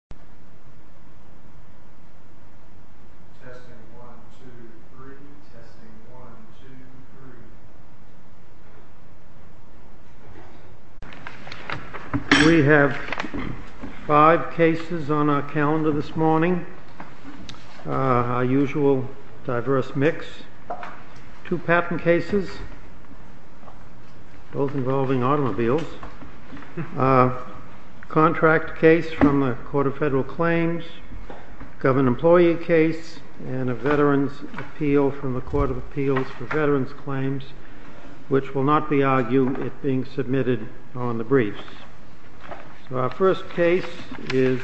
Adam 現在在拍攝 utzs 2017 Sam once version reiblesouwuwuwuwuwuwuwuwuwuwuwuwuwuwuwuwuwuwuwu Adam only bought one car in 2018 All the cars found are related federal claims Govern employee case and a veterans appeal from the Court of Appeals for veterans claims Which will not be argued it being submitted on the briefs so our first case is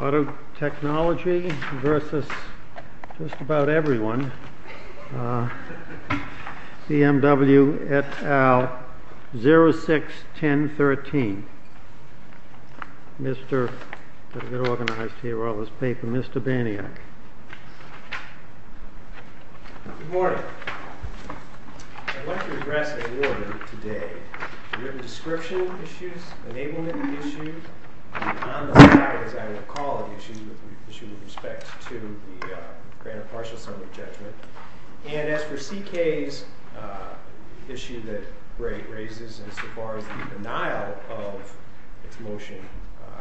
Auto technology versus just about everyone Cmw et al 0 6 10 13 Mr. Organized here all this paper. Mr. Baniak And as for CK's issue that rate raises as far as the denial of Motion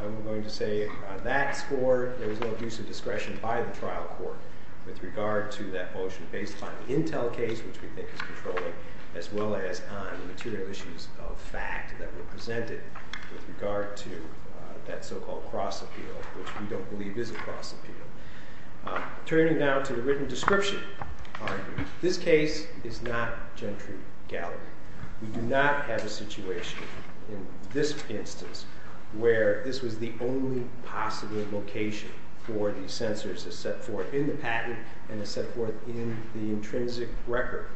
I'm going to say that score There was no use of discretion by the trial court with regard to that motion based on the Intel case Which we think is controlling as well as on the material issues of fact that were presented with regard to That so-called cross appeal, which we don't believe is a cross appeal Turning down to the written description This case is not gentry gallery. We do not have a situation This instance where this was the only Possible location for these sensors is set forth in the patent and the set forth in the intrinsic record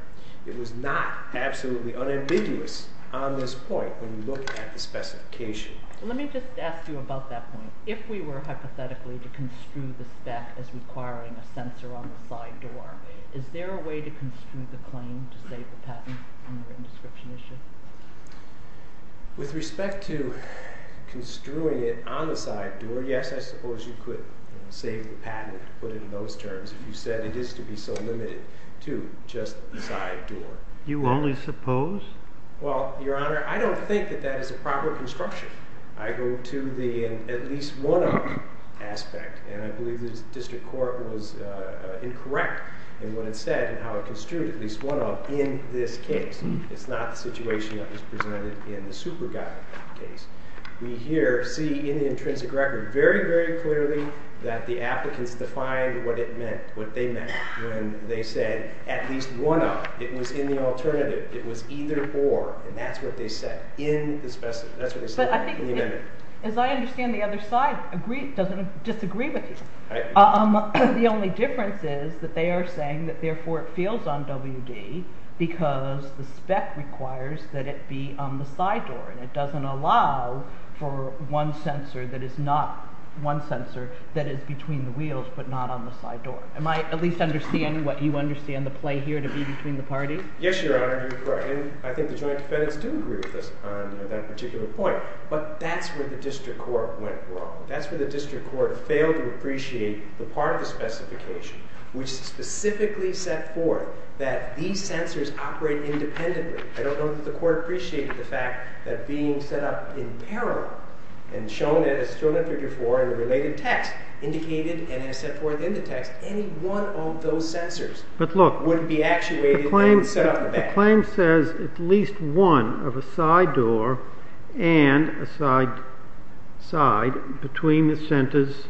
It was not absolutely unambiguous on this point when you look at the specification Let me just ask you about that point if we were hypothetically to construe the spec as requiring a sensor on the side door Is there a way to construe the claim to save the patent? With respect to Construing it on the side door. Yes I suppose you could save the patent put it in those terms if you said it is to be so limited to just the side Door you only suppose? Well, your honor. I don't think that that is a proper construction. I go to the at least one aspect and I believe this district Court was Incorrect and what it said and how it construed at least one up in this case. It's not the situation In the super guy case we here see in the intrinsic record very very clearly That the applicants defined what it meant what they meant when they said at least one up it was in the alternative It was either or and that's what they said in the specimen That's what I think as I understand the other side agreed doesn't disagree with you Um, the only difference is that they are saying that therefore it feels on WD Because the spec requires that it be on the side door and it doesn't allow For one sensor that is not one sensor that is between the wheels but not on the side door I might at least understand what you understand the play here to be between the parties. Yes, your honor I think the joint defense do agree with us on that particular point, but that's where the district court went wrong That's where the district court failed to appreciate the part of the specification Which specifically set forth that these sensors operate independently I don't know that the court appreciated the fact that being set up in parallel and Shown it as shown in figure four and the related text indicated and has set forth in the text any one of those sensors But look wouldn't be actuated claim set up a claim says at least one of a side door and a side Side between the centers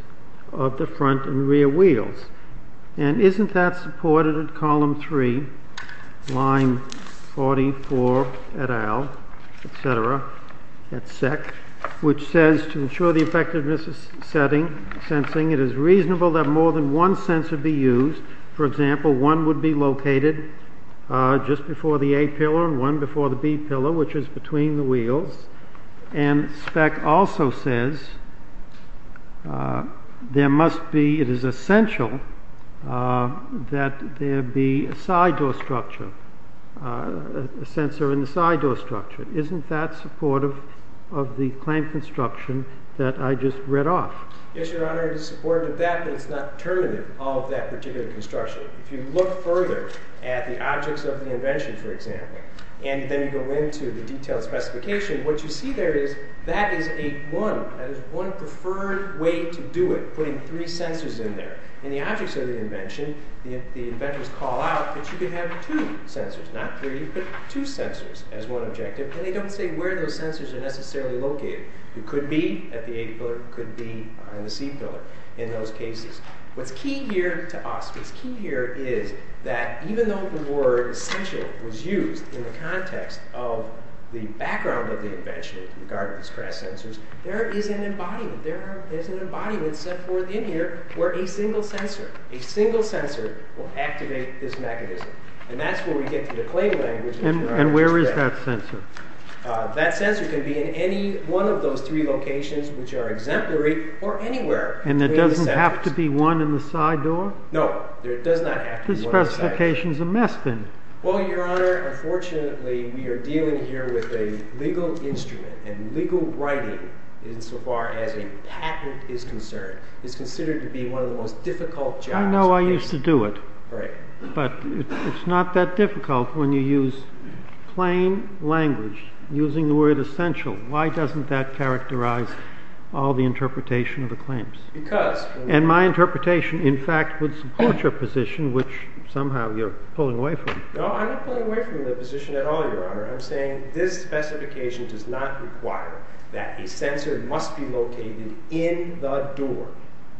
of the front and rear wheels and isn't that supported at column three line 44 et al Etc at SEC which says to ensure the effectiveness is setting sensing It is reasonable that more than one sensor be used. For example, one would be located just before the a pillar and one before the B pillar, which is between the wheels and spec also says There must be it is essential That there be a side door structure Sensor in the side door structure. Isn't that supportive of the claim construction that I just read off? Construction if you look further at the objects of the invention for example And then you go into the detailed specification what you see there is that is a one That is one preferred way to do it putting three sensors in there in the objects of the invention If the inventors call out that you can have two sensors not three You put two sensors as one objective and they don't say where those sensors are necessarily located It could be at the a pillar could be on the C pillar in those cases. What's key here to us? Here is that even though the word essential was used in the context of The background of the invention in regard to these crash sensors. There is an embodiment There is an embodiment set forth in here where a single sensor a single sensor will activate this mechanism And that's where we get to the claim language. And where is that sensor? That sensor can be in any one of those three locations which are exemplary or anywhere And it doesn't have to be one in the side door? No, it does not have to be one in the side door. This specification is a mess then. Well, your honor, unfortunately we are dealing here with a legal instrument and legal writing Insofar as a patent is concerned is considered to be one of the most difficult jobs. I know I used to do it. Right. But it's not that difficult when you use plain language using the word essential Why doesn't that characterize all the interpretation of the claims? Because. And my interpretation in fact would support your position which somehow you're pulling away from. No, I'm not pulling away from the position at all, your honor. I'm saying this specification does not require that a sensor must be located in the door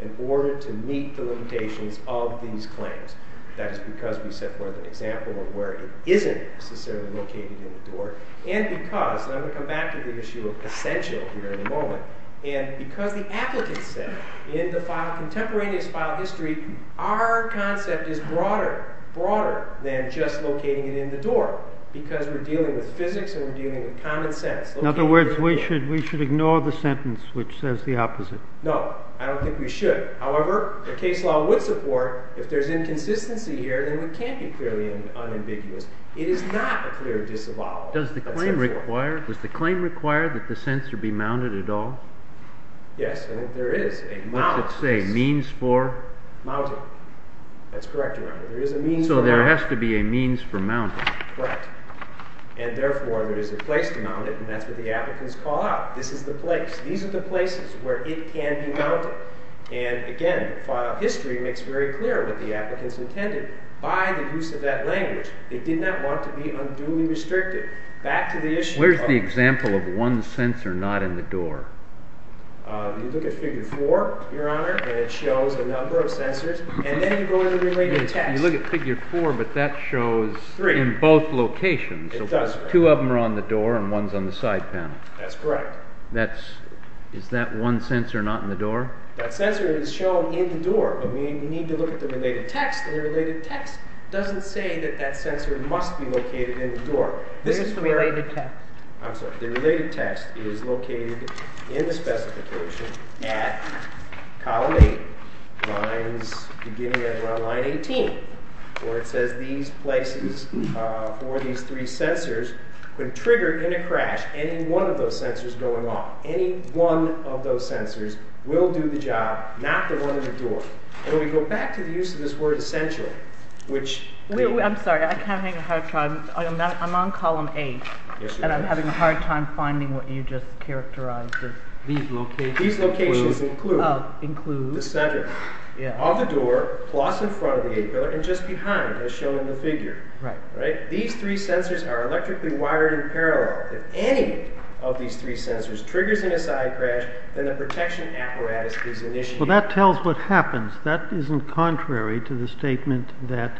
In order to meet the limitations of these claims. That is because we set forth an example of where it isn't necessarily located in the door. And because, and I'm going to come back to the issue of essential here in a moment And because the applicant said in the contemporaneous file history Our concept is broader, broader than just locating it in the door. Because we're dealing with physics and we're dealing with common sense. In other words, we should ignore the sentence which says the opposite. No, I don't think we should. However, the case law would support if there's inconsistency here then we can't be clearly unambiguous. It is not a clear disavowal. Does the claim require that the sensor be mounted at all? Yes, and there is a mount. What's it say? Means for? Mounting. That's correct, your honor. There is a means for mounting. So there has to be a means for mounting. Correct. And therefore there is a place to mount it. And that's what the applicants call out. This is the place. These are the places where it can be mounted. And again, file history makes very clear what the applicants intended. By the use of that language, they did not want to be unduly restricted. Back to the issue. Where's the example of one sensor not in the door? You look at figure 4, your honor, and it shows a number of sensors. And then you go to the related text. You look at figure 4, but that shows in both locations. It does. Two of them are on the door and one's on the side panel. That's correct. Is that one sensor not in the door? That sensor is shown in the door. But we need to look at the related text. And the related text doesn't say that that sensor must be located in the door. Where's the related text? I'm sorry. The related text is located in the specification at column 8, beginning at line 18. Where it says these places for these three sensors could trigger in a crash any one of those sensors going off. Any one of those sensors will do the job, not the one in the door. And when we go back to the use of this word essential, which I'm sorry. I can't think of how to try. I'm on column 8. And I'm having a hard time finding what you just characterized as these locations. These locations include the center of the door, plus in front of the A pillar, and just behind, as shown in the figure. These three sensors are electrically wired in parallel. If any of these three sensors triggers in a side crash, then the protection apparatus is initiated. Well, that tells what happens. That isn't contrary to the statement that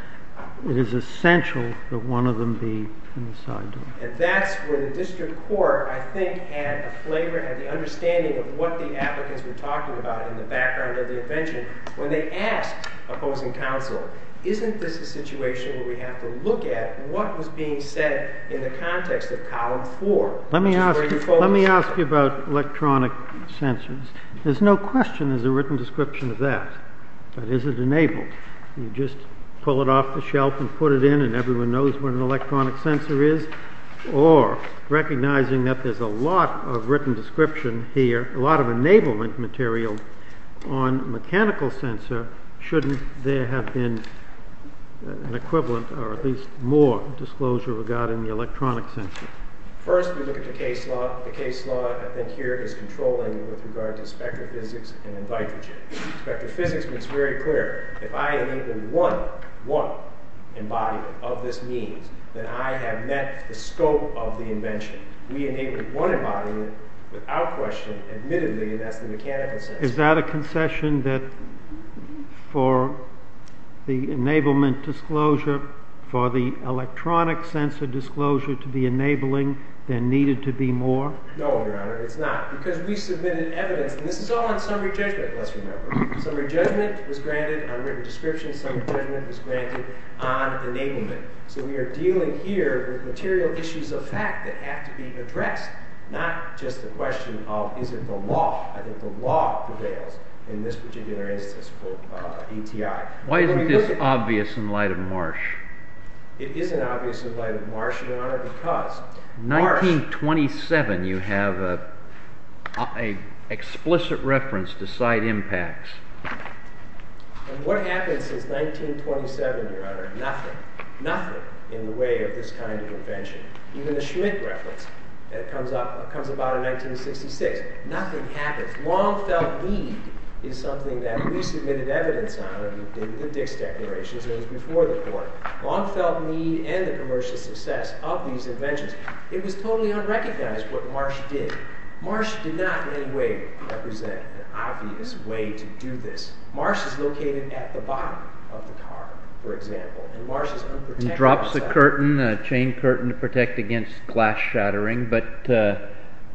it is essential that one of them be in the side door. And that's where the district court, I think, had a flavor, had the understanding of what the applicants were talking about in the background of the invention. When they asked opposing counsel, isn't this a situation where we have to look at what was being said in the context of column 4? Let me ask you about electronic sensors. There's no question there's a written description of that. But is it enabled? You just pull it off the shelf and put it in and everyone knows what an electronic sensor is? Or, recognizing that there's a lot of written description here, a lot of enablement material on mechanical sensor, shouldn't there have been an equivalent, or at least more disclosure regarding the electronic sensor? First, we look at the case law. The case law, I think, here is controlling with regard to spectrophysics and in vitrogen. Spectrophysics makes very clear, if I enable one embodiment of this means, then I have met the scope of the invention. We enable one embodiment without question, admittedly, that's the mechanical sensor. Is that a concession that for the enablement disclosure, for the electronic sensor disclosure to be enabling, there needed to be more? No, Your Honor, it's not. Because we submitted evidence, and this is all on summary judgment, let's remember. Summary judgment was granted on written description. Summary judgment was granted on enablement. So we are dealing here with material issues of fact that have to be addressed, not just the question of is it the law? I think the law prevails in this particular instance for ETI. It isn't obvious in light of Marsh, Your Honor, because... 1927, you have an explicit reference to side impacts. And what happened since 1927, Your Honor? Nothing. Nothing in the way of this kind of invention. Even the Schmidt reference that comes about in 1966. Nothing happens. Long felt need is something that we submitted evidence on in the Dix Declaration. It was before the court. Long felt need and the commercial success of these inventions. It was totally unrecognized what Marsh did. Marsh did not in any way represent an obvious way to do this. Marsh is located at the bottom of the car, for example. And Marsh is unprotected... And drops the curtain, a chain curtain to protect against glass shattering. But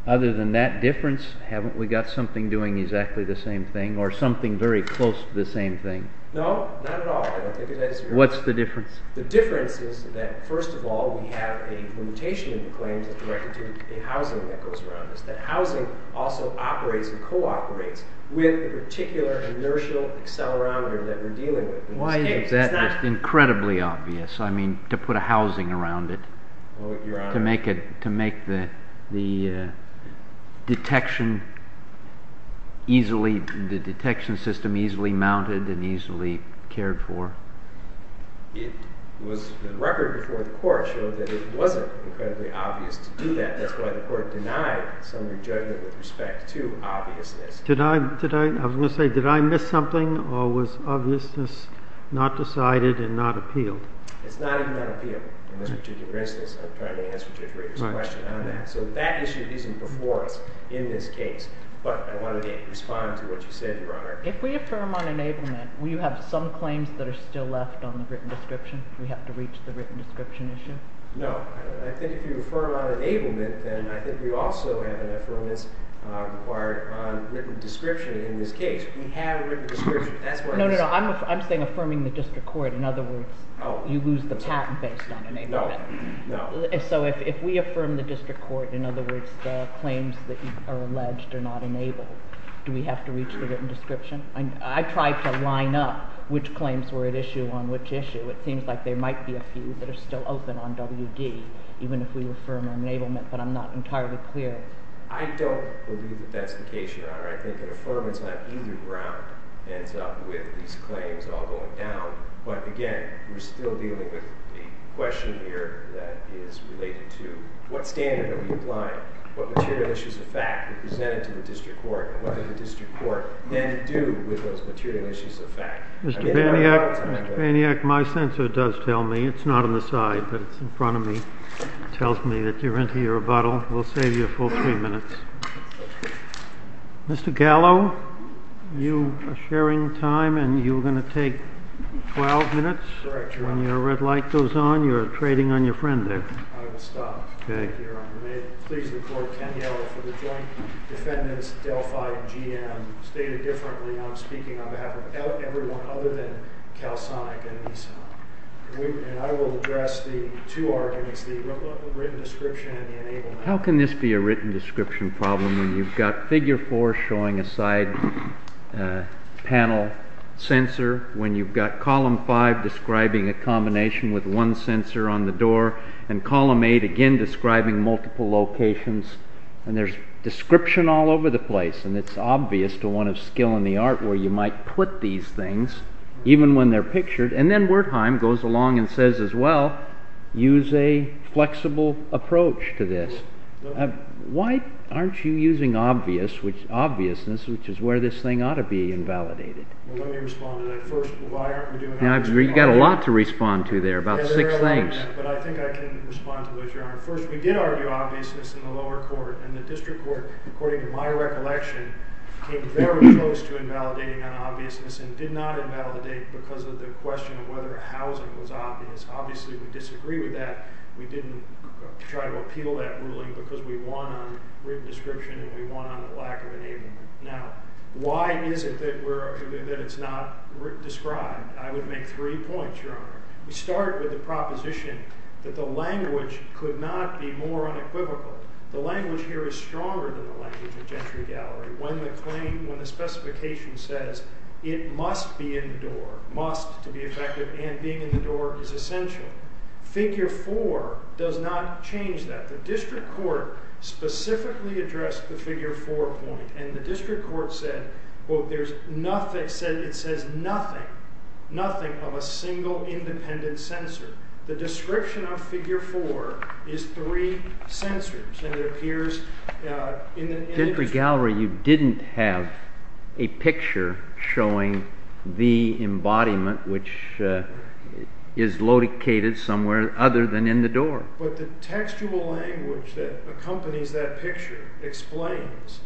other than that difference, haven't we got something doing exactly the same thing or something very close to the same thing? No, not at all. I don't think it has... What's the difference? The difference is that, first of all, we have a limitation in the claims that's directed to the housing that goes around us. That housing also operates and cooperates with the particular inertial accelerometer that we're dealing with. Why is that incredibly obvious? I mean, to put a housing around it? Well, Your Honor... To make the detection easily... the detection system easily mounted and easily cared for? No. It was... The record before the court showed that it wasn't incredibly obvious to do that. That's why the court denied some of your judgment with respect to obviousness. Did I... I was going to say, did I miss something or was obviousness not decided and not appealed? It's not even unappealable. In this particular instance, I'm trying to answer Judge Rader's question on that. So that issue isn't before us in this case. But I wanted to respond to what you said, Your Honor. If we affirm unenablement, will you have some claims that are still left on the written description? Do we have to reach the written description issue? No. I think if you affirm unenablement, then I think we also have an affirmance required on written description in this case. We have a written description. That's why... No, no, no. I'm saying affirming the district court. In other words, you lose the patent based on enablement. No, no. So if we affirm the district court, in other words, the claims that are alleged are not enabled, do we have to reach the written description? I tried to line up which claims were at issue on which issue. It seems like there might be a few that are still open on WD, even if we affirm unenablement, but I'm not entirely clear. I don't believe that that's the case, Your Honor. I think an affirmance on either ground ends up with these claims all going down. But again, we're still dealing with the question here that is related to what standard are we applying? What material issues of fact are presented to the district court? What does the district court then do with those material issues of fact? Mr. Baniak, Mr. Baniak, my censor does tell me. It's not on the side, but it's in front of me. It tells me that you're into your bottle. We'll save you a full three minutes. Mr. Gallo, you are sharing time and you're going to take 12 minutes. Correct, Your Honor. When your red light goes on, you're trading on your friend there. I will stop. Okay. Thank you, Your Honor. May it please the court, Your Honor, for the joint defendants, Delphi and GM, stated differently. I'm speaking on behalf of everyone other than CalSonic and Nissan. And I will address the two arguments, the written description and the enablement. How can this be a written description problem when you've got Figure 4 showing a side panel censor, when you've got Column 5 describing a combination with one censor on the door and Column 8 again describing multiple locations and there's description all over the place and it's obvious to one of skill in the art where you might put these things even when they're pictured and then Wertheim goes along and says as well use a flexible approach to this. Why aren't you using obviousness which is where this thing ought to be invalidated? Let me respond to that first. Why aren't we doing obviousness? You've got a lot to respond to there, about six things. I think I can respond to those, Your Honor. First, we did argue obviousness in the lower court and the district court according to my recollection came very close to invalidating on obviousness and did not invalidate because of the question of whether housing was obvious. Obviously, we disagree with that. We didn't try to appeal that ruling because we won on written description and we won on the lack of enablement. Now, why is it that it's not described? I would make three points, Your Honor. We start with the proposition that the language could not be more unequivocal the language here is stronger than the language of Gentry Gallery when the claim when the specification says it must be in the door must to be effective and being in the door is essential. Figure 4 does not change that. The district court specifically addressed the figure 4 point and the district court said there's nothing it says nothing nothing of a single independent censor. The description of figure 4 is three censors and it appears in the Gentry Gallery you didn't have a picture showing the embodiment which is located somewhere other than in the door. But the textual language that accompanies that picture explains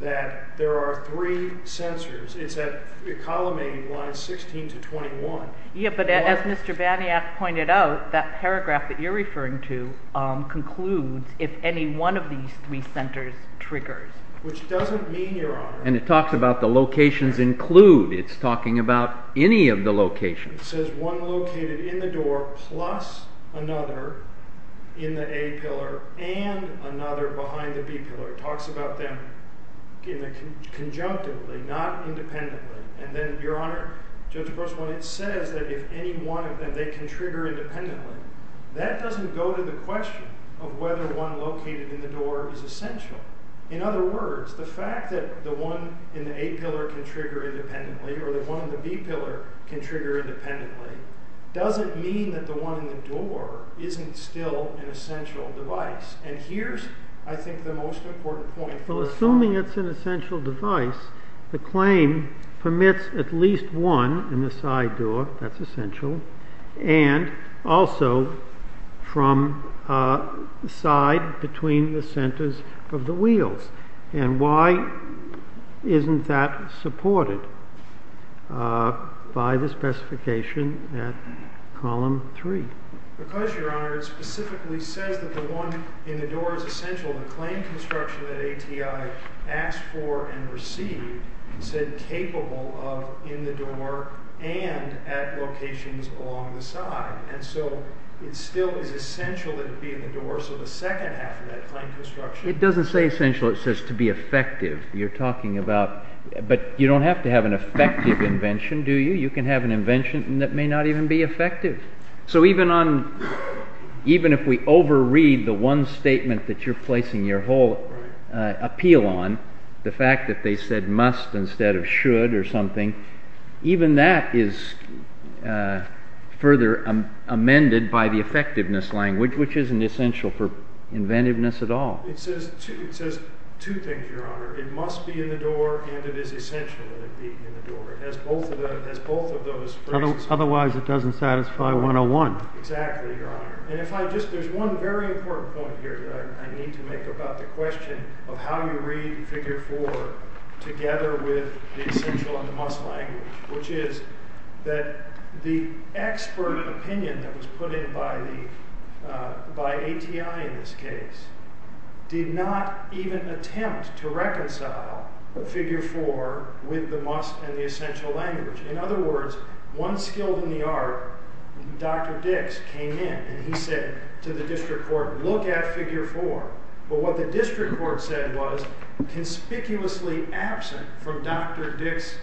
that there are three censors it's at column A lines 16 to 21. Yeah, but as Mr. Baniak pointed out that paragraph that you're referring to concludes if any one of these three censors triggers. Which doesn't mean your honor and it talks about the locations include it's talking about any of the locations it says one located in the door plus another in the A pillar and another behind the B pillar it talks about them in a conjunctively not independently and then your honor Judge Grossman it says that if any one of them they can trigger independently that doesn't go to the question of whether one located in the door is essential. In other words the fact that the one in the A pillar can trigger independently or the one in the B pillar can trigger independently doesn't mean that the one in the door isn't still an essential device and here's I think the most important point Well assuming it's an essential device the claim permits at least one in the side door that's essential and also from side between the centers of the wheels and why isn't that supported by the specification at column 3 Because your honor it specifically says that the one in the door is essential the claim construction that ATI asked for and received said capable of in the door and at locations along the side and so it still is essential that it be in the door so the second half of that claim construction It doesn't say essential it says to be effective you're talking about but you don't have to have an effective invention do you you can have an invention that is efficient and that may not even be effective so even on even if we over read the one statement that you're placing your whole appeal on the fact that they said must instead of should or something even that is further amended by the effectiveness language which isn't essential for otherwise it doesn't satisfy 101 exactly your honor and if I just there's one very important point here that I need to make about the question of how you read figure 4 together with the essential and the must language which is that the expert opinion that was put in place by ATI in this case did not even attempt to reconcile figure 4 with the must and the essential language in other words one skilled in the art Dr. Dix came in and he said to the district court look at figure 4 but what the district court said was conspicuously absent from Dr. Dix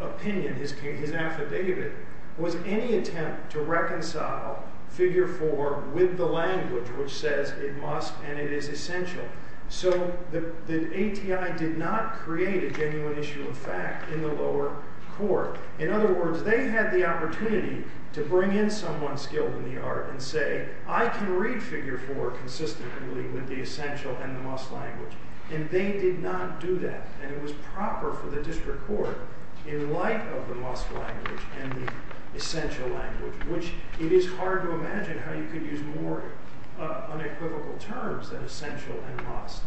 opinion his affidavit was any attempt to reconcile figure 4 with the language which says it must and it is essential so the ATI did not create a genuine issue of fact in the lower court in other words they had the opportunity to bring in someone skilled in the art and say I can read figure 4 consistently with the essential and the must language and they did not do that and it was proper for the district court in light of the must language and the essential language which it is hard to imagine how you could use more unequivocal terms than essential and must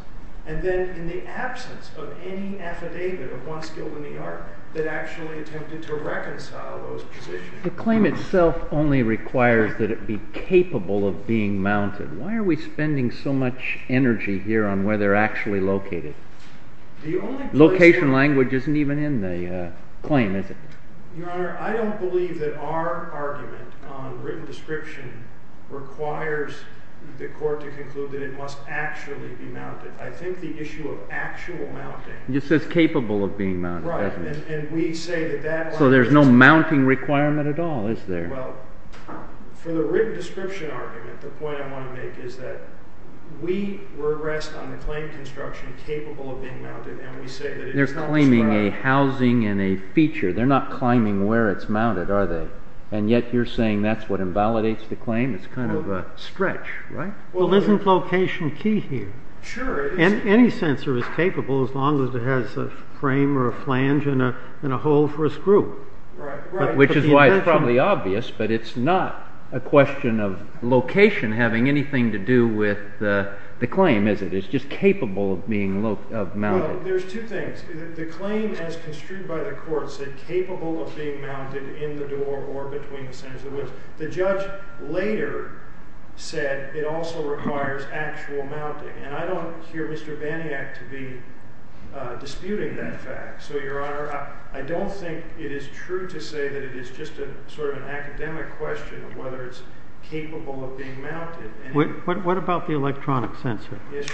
and then in the absence of any affidavit of one skilled in the art that actually attempted to reconcile those positions the claim itself only requires that it be capable of being mounted why are we spending so much energy here on where they are actually located location language isn't even in the claim is it your honor I don't believe that our argument on written description requires the court to conclude that it must actually be mounted I think the issue of actual mounting it just says there is no mounting requirement at all is there well for the written description argument the point I want to make is that we rest on the claim construction capable of being mounted they are claiming a housing and a feature they are not claiming where it is which is why it's probably obvious but it's not a question of location having anything to do with the claim is it it's just capable of being mounted there's two things the claim as construed by the court said capable of being mounted in the door or between the centers of the woods the judge later said it also requires actual mounting and I don't hear Mr. Baniak to be disputing that fact so your honor I don't think it is true to say that it is just an academic question of whether it's capable of being mounted what about the electronic sensor is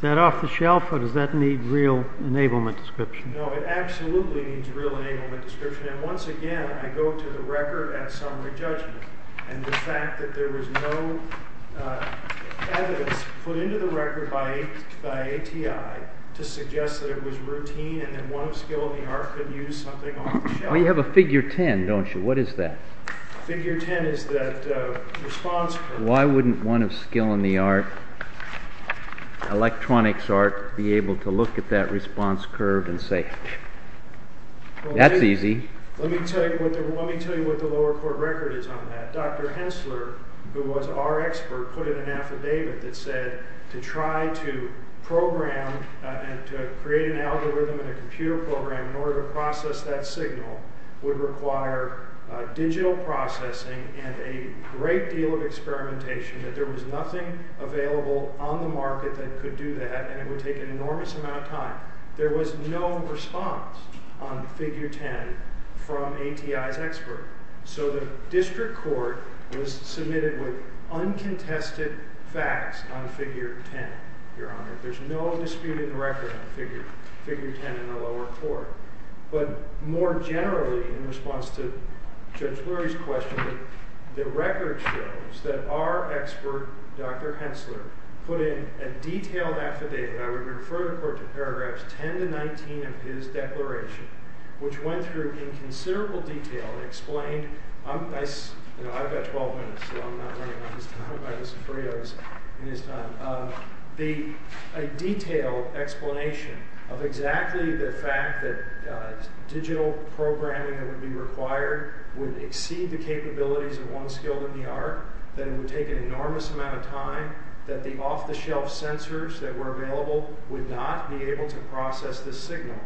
that off the shelf or does that need real enablement description no it absolutely needs real enablement description and once again I go to the record at summary judgment and the fact that there was no evidence put into the record by ATI to suggest that it was routine and that one of skill in the art could use something off the shelf you have a figure 10 don't you what is that figure 10 is that response why wouldn't one of skill in the art electronics art be able to look at that response curve and say that's easy let me tell you what the lower court record is on that Dr. Hensler who was our expert put in an affidavit that said to try to program and to create an algorithm and a computer program in order to process that signal would require digital processing and a great deal of experimentation that there was nothing available on the market that could do that and it would take an enormous amount of time there was no response on figure 10 from ATI's expert so the district court was submitted with uncontested facts on figure 10 your honor there's no dispute in the record on figure 10 in the lower court but more generally in response to paragraphs 10 to 19 of his declaration which went through in considerable detail and explained I've got 12 minutes so I'm not running out of time I hope I have some free hours in this time a detailed explanation of exactly the fact that digital programming that would be required would exceed the capabilities of one skilled in the art that it would take an enormous amount of time that the off the shelf sensors that were available would not be able to process this signal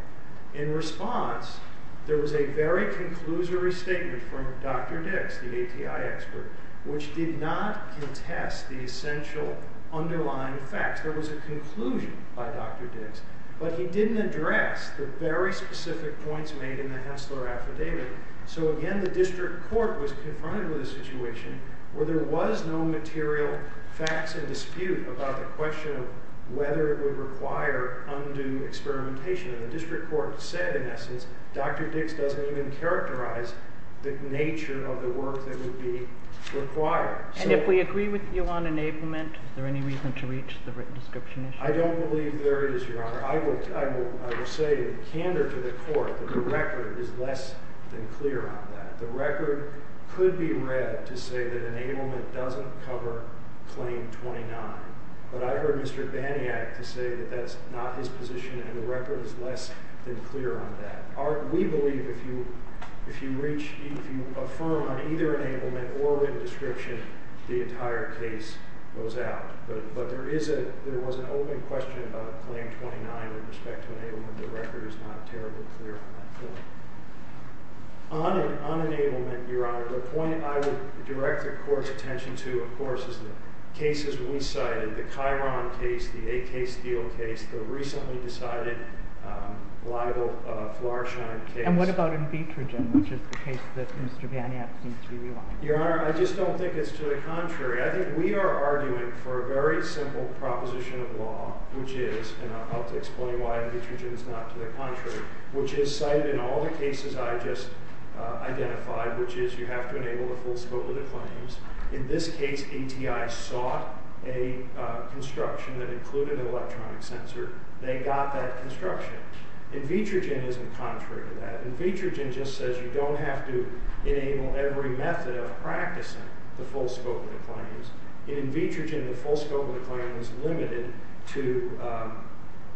in response there was a very conclusory statement from Dr. Dix the ATI expert which did not contest the essential underlying fact there was a conclusion by Dr. Dix but he didn't address the very specific points made in the Hessler affidavit so again the district court was confronted with a situation where there was no material facts and dispute about the question of whether it would require undue experimentation and the district court said in essence Dr. Dix doesn't even characterize the nature of the work that would be required and if we you on enablement is there any reason to reach the written description issue I don't believe there is your honor I will say in candor to the district court the record is less than clear on that the record could be read to say that enablement doesn't cover claim 29 but I heard Mr. Baniak to say that that's not his position and the record is less than clear on that we believe if you if you reach if you reach the it's less than clear on that point on enablement your honor the point I would direct the court's attention to of course is the cases we cited the Kiron case the AK Steele case the recently decided libel Florsheim case and what about the original proposition of law which is and I'll explain why it's not to the contrary which is cited in all the cases I just identified which is you have to enable the full scope of the claims in this case ATI sought a construction that included and was limited to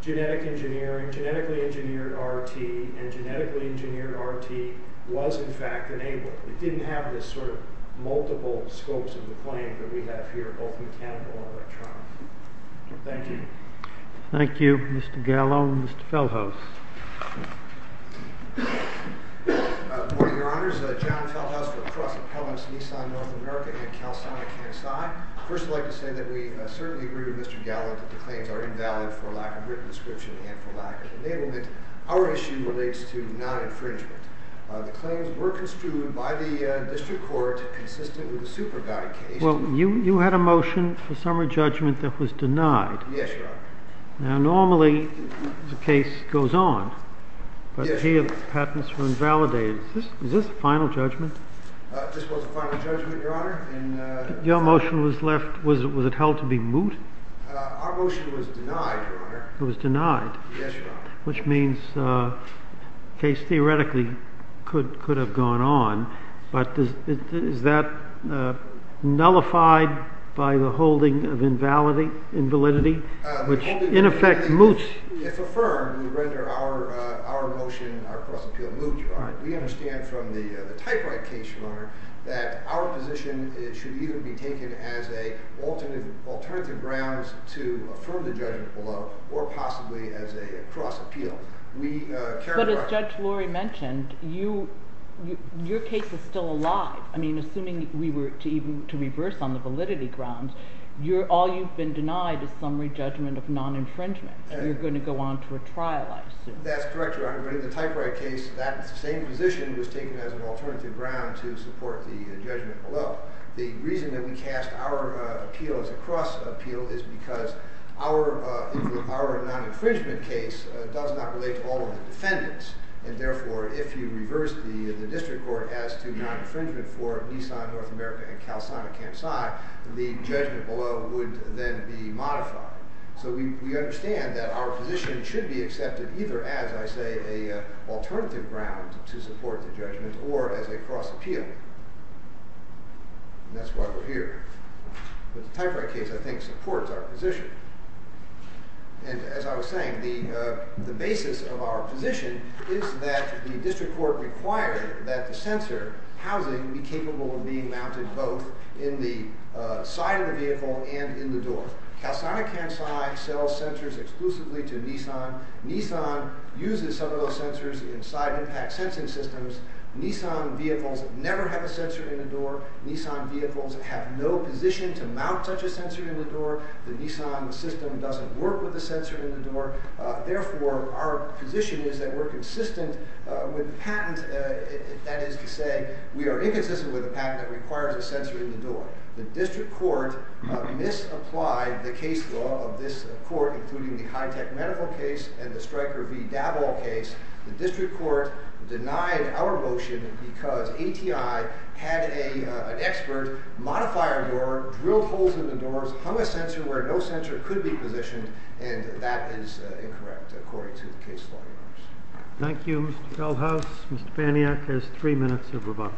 genetic engineering genetically engineered RRT and genetically engineered RRT was in fact enabled it didn't have this sort of multiple scopes of the claim that we have here both mechanical and electronic thank you thank you Mr. Gallant that the claims are invalid for lack of written description and for lack of enablement our issue relates to non-infringement the claims were construed by the district court consistent with the supervisor case well you you had a motion for summary judgment that was denied yes your honor now normally the case goes on but here the patents were invalidated is this a final judgment this was a final judgment your motion was left was it held to be moot our motion was denied it was denied yes your honor which means the case theoretically could have gone on but is that nullified by the holding of the case it's affirmed we render our motion our cross appeal moot your honor we understand from the typewrite case your honor that our position should either be taken as a alternative grounds to affirm the judgment below or possibly as a cross appeal we but as judge lori mentioned you your case is still alive I mean assuming we were to reverse on the validity grounds all you've been denied is summary judgment of non infringement you're going to go on to a trial I assume that's correct your honor but in the typewrite case that same position was taken as an alternative the judgment below and therefore if you reverse the district court as to non infringement for nissan north america and calisthenic campside the judgment below would then be modified so we understand that our position should be accepted either as I say a alternative ground to support the judgment or as a cross appeal that's why we're here the typewrite case I think supports our position and as I was saying the basis of our position is that the district court required that the sensor housing be capable of being mounted both in the side of the vehicle and in the door calisthenic campside sells sensors exclusively to nissan nissan uses some of those sensors inside impact sensing systems nissan vehicles never have a sensor in the door nissan vehicles have no position to mount such a sensor in the door the nissan system doesn't work with the sensor door therefore our position is that we're consistent with patent that is to say we are inconsistent with a patent that requires a sensor in the door the district court misapplied the case law of this court including the high tech medical case and the striker v dabble case the district court denied our motion because ati had an expert modifier drilled holes in the door hung a sensor where no sensor could be positioned and that is incorrect according to the case law thank you mr feldhaus mr faniak has three minutes of rebuttal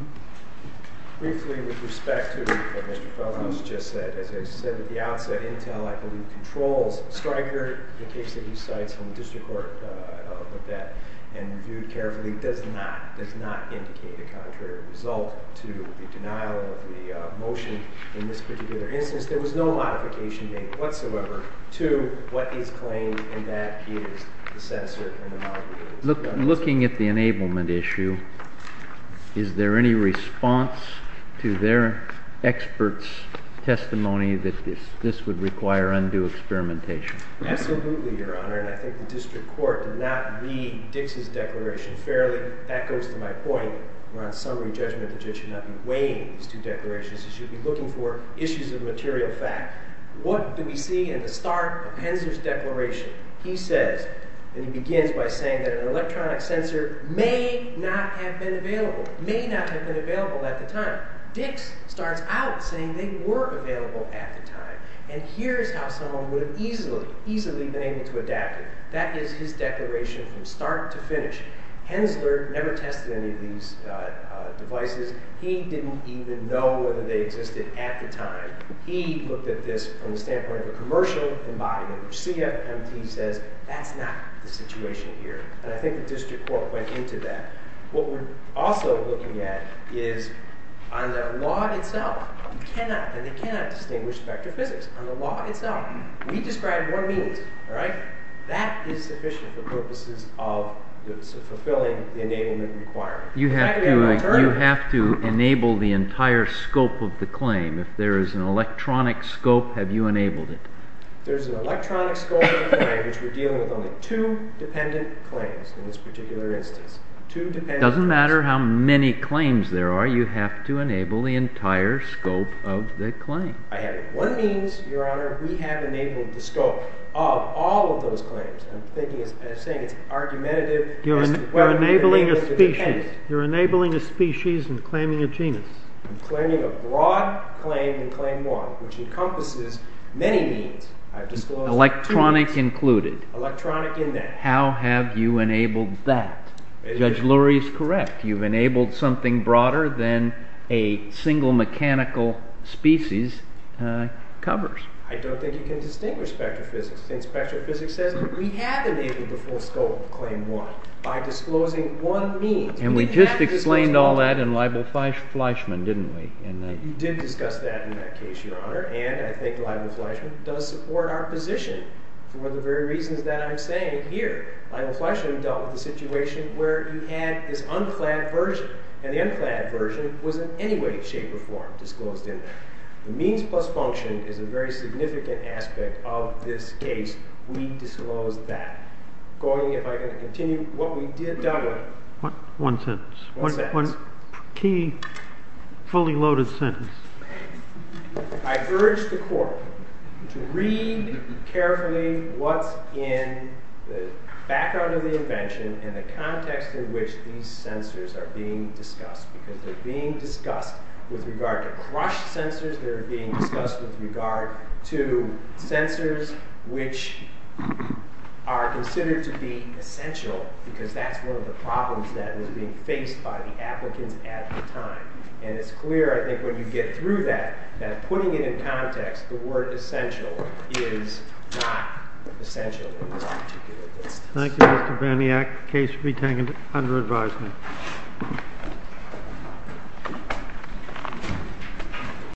briefly with respect to what mr. feldhaus just said as i said at the outset intel i believe controls striker the case that he cites in the district court and reviewed carefully does not indicate a contrary result to the denial of the motion in this case is there experts testimony that this would require undue experimentation absolutely your honor and i think the district court did not read dixie's declaration fairly that goes to my point we're on summary judgment the judge should not be weighing these two declarations he should be looking for issues of material fact what do we see in the start of hensler's declaration he says he begins by saying that an electronic sensor may not have been available may not have been available at the time dix starts out saying they were available at the time and here's how someone would have easily easily been able to adapt it that is his declaration from start to finish hensler any of these devices he didn't even know whether they existed at the time he looked at this from the standpoint of a commercial embodiment which cfmt says that's not the situation here and i think the district court went into that what we're also looking at is on the law itself you cannot and they cannot distinguish spectrophysics on the law itself we describe more means alright that is sufficient for purposes of fulfilling the enablement requirement you have to enable the entire scope of the claim if there is an electronic scope have you enabled it there's an electronic scope of the claim which we're dealing with only two dependent claims in this particular instance doesn't matter how many claims there are you have to enable the entire scope of the claim i have one means your honor we have enabled the scope of all of those claims i'm saying it's argumentative you're enabling a species you're enabling a species and claiming a genus i'm claiming a broad claim in claim one which encompasses many means i've disclosed electronic included electronic in that how have you enabled that judge lurie is correct you've enabled something broader than a single mechanical species covers i don't think you can distinguish spectrophysics since spectrophysics says that we have enabled the full scope of claim one by disclosing one means and we just explained all that in libel flashman didn't we you did discuss that in that case your honor and i think libel flashman does support our position for the very reasons that i'm saying here libel flashman dealt with the situation where you had this unclad version and the unclad version was in any way shape or form disclosed in the means plus function is a very significant aspect of this case we disclosed that going if i can continue what we did done with one sentence key fully loaded sentence i urge the court to read carefully what's in the background of the invention and the context in which these sensors are being discussed because they're being discussed with regard to crushed sensors they're being discussed with regard to sensors which are considered to be essential because that's one of the problems that was being faced by the applicants at the time and it's clear i think when you get through that that putting it in context the word essential is not essential in this particular case thank you thank you mr berniak the case will be taken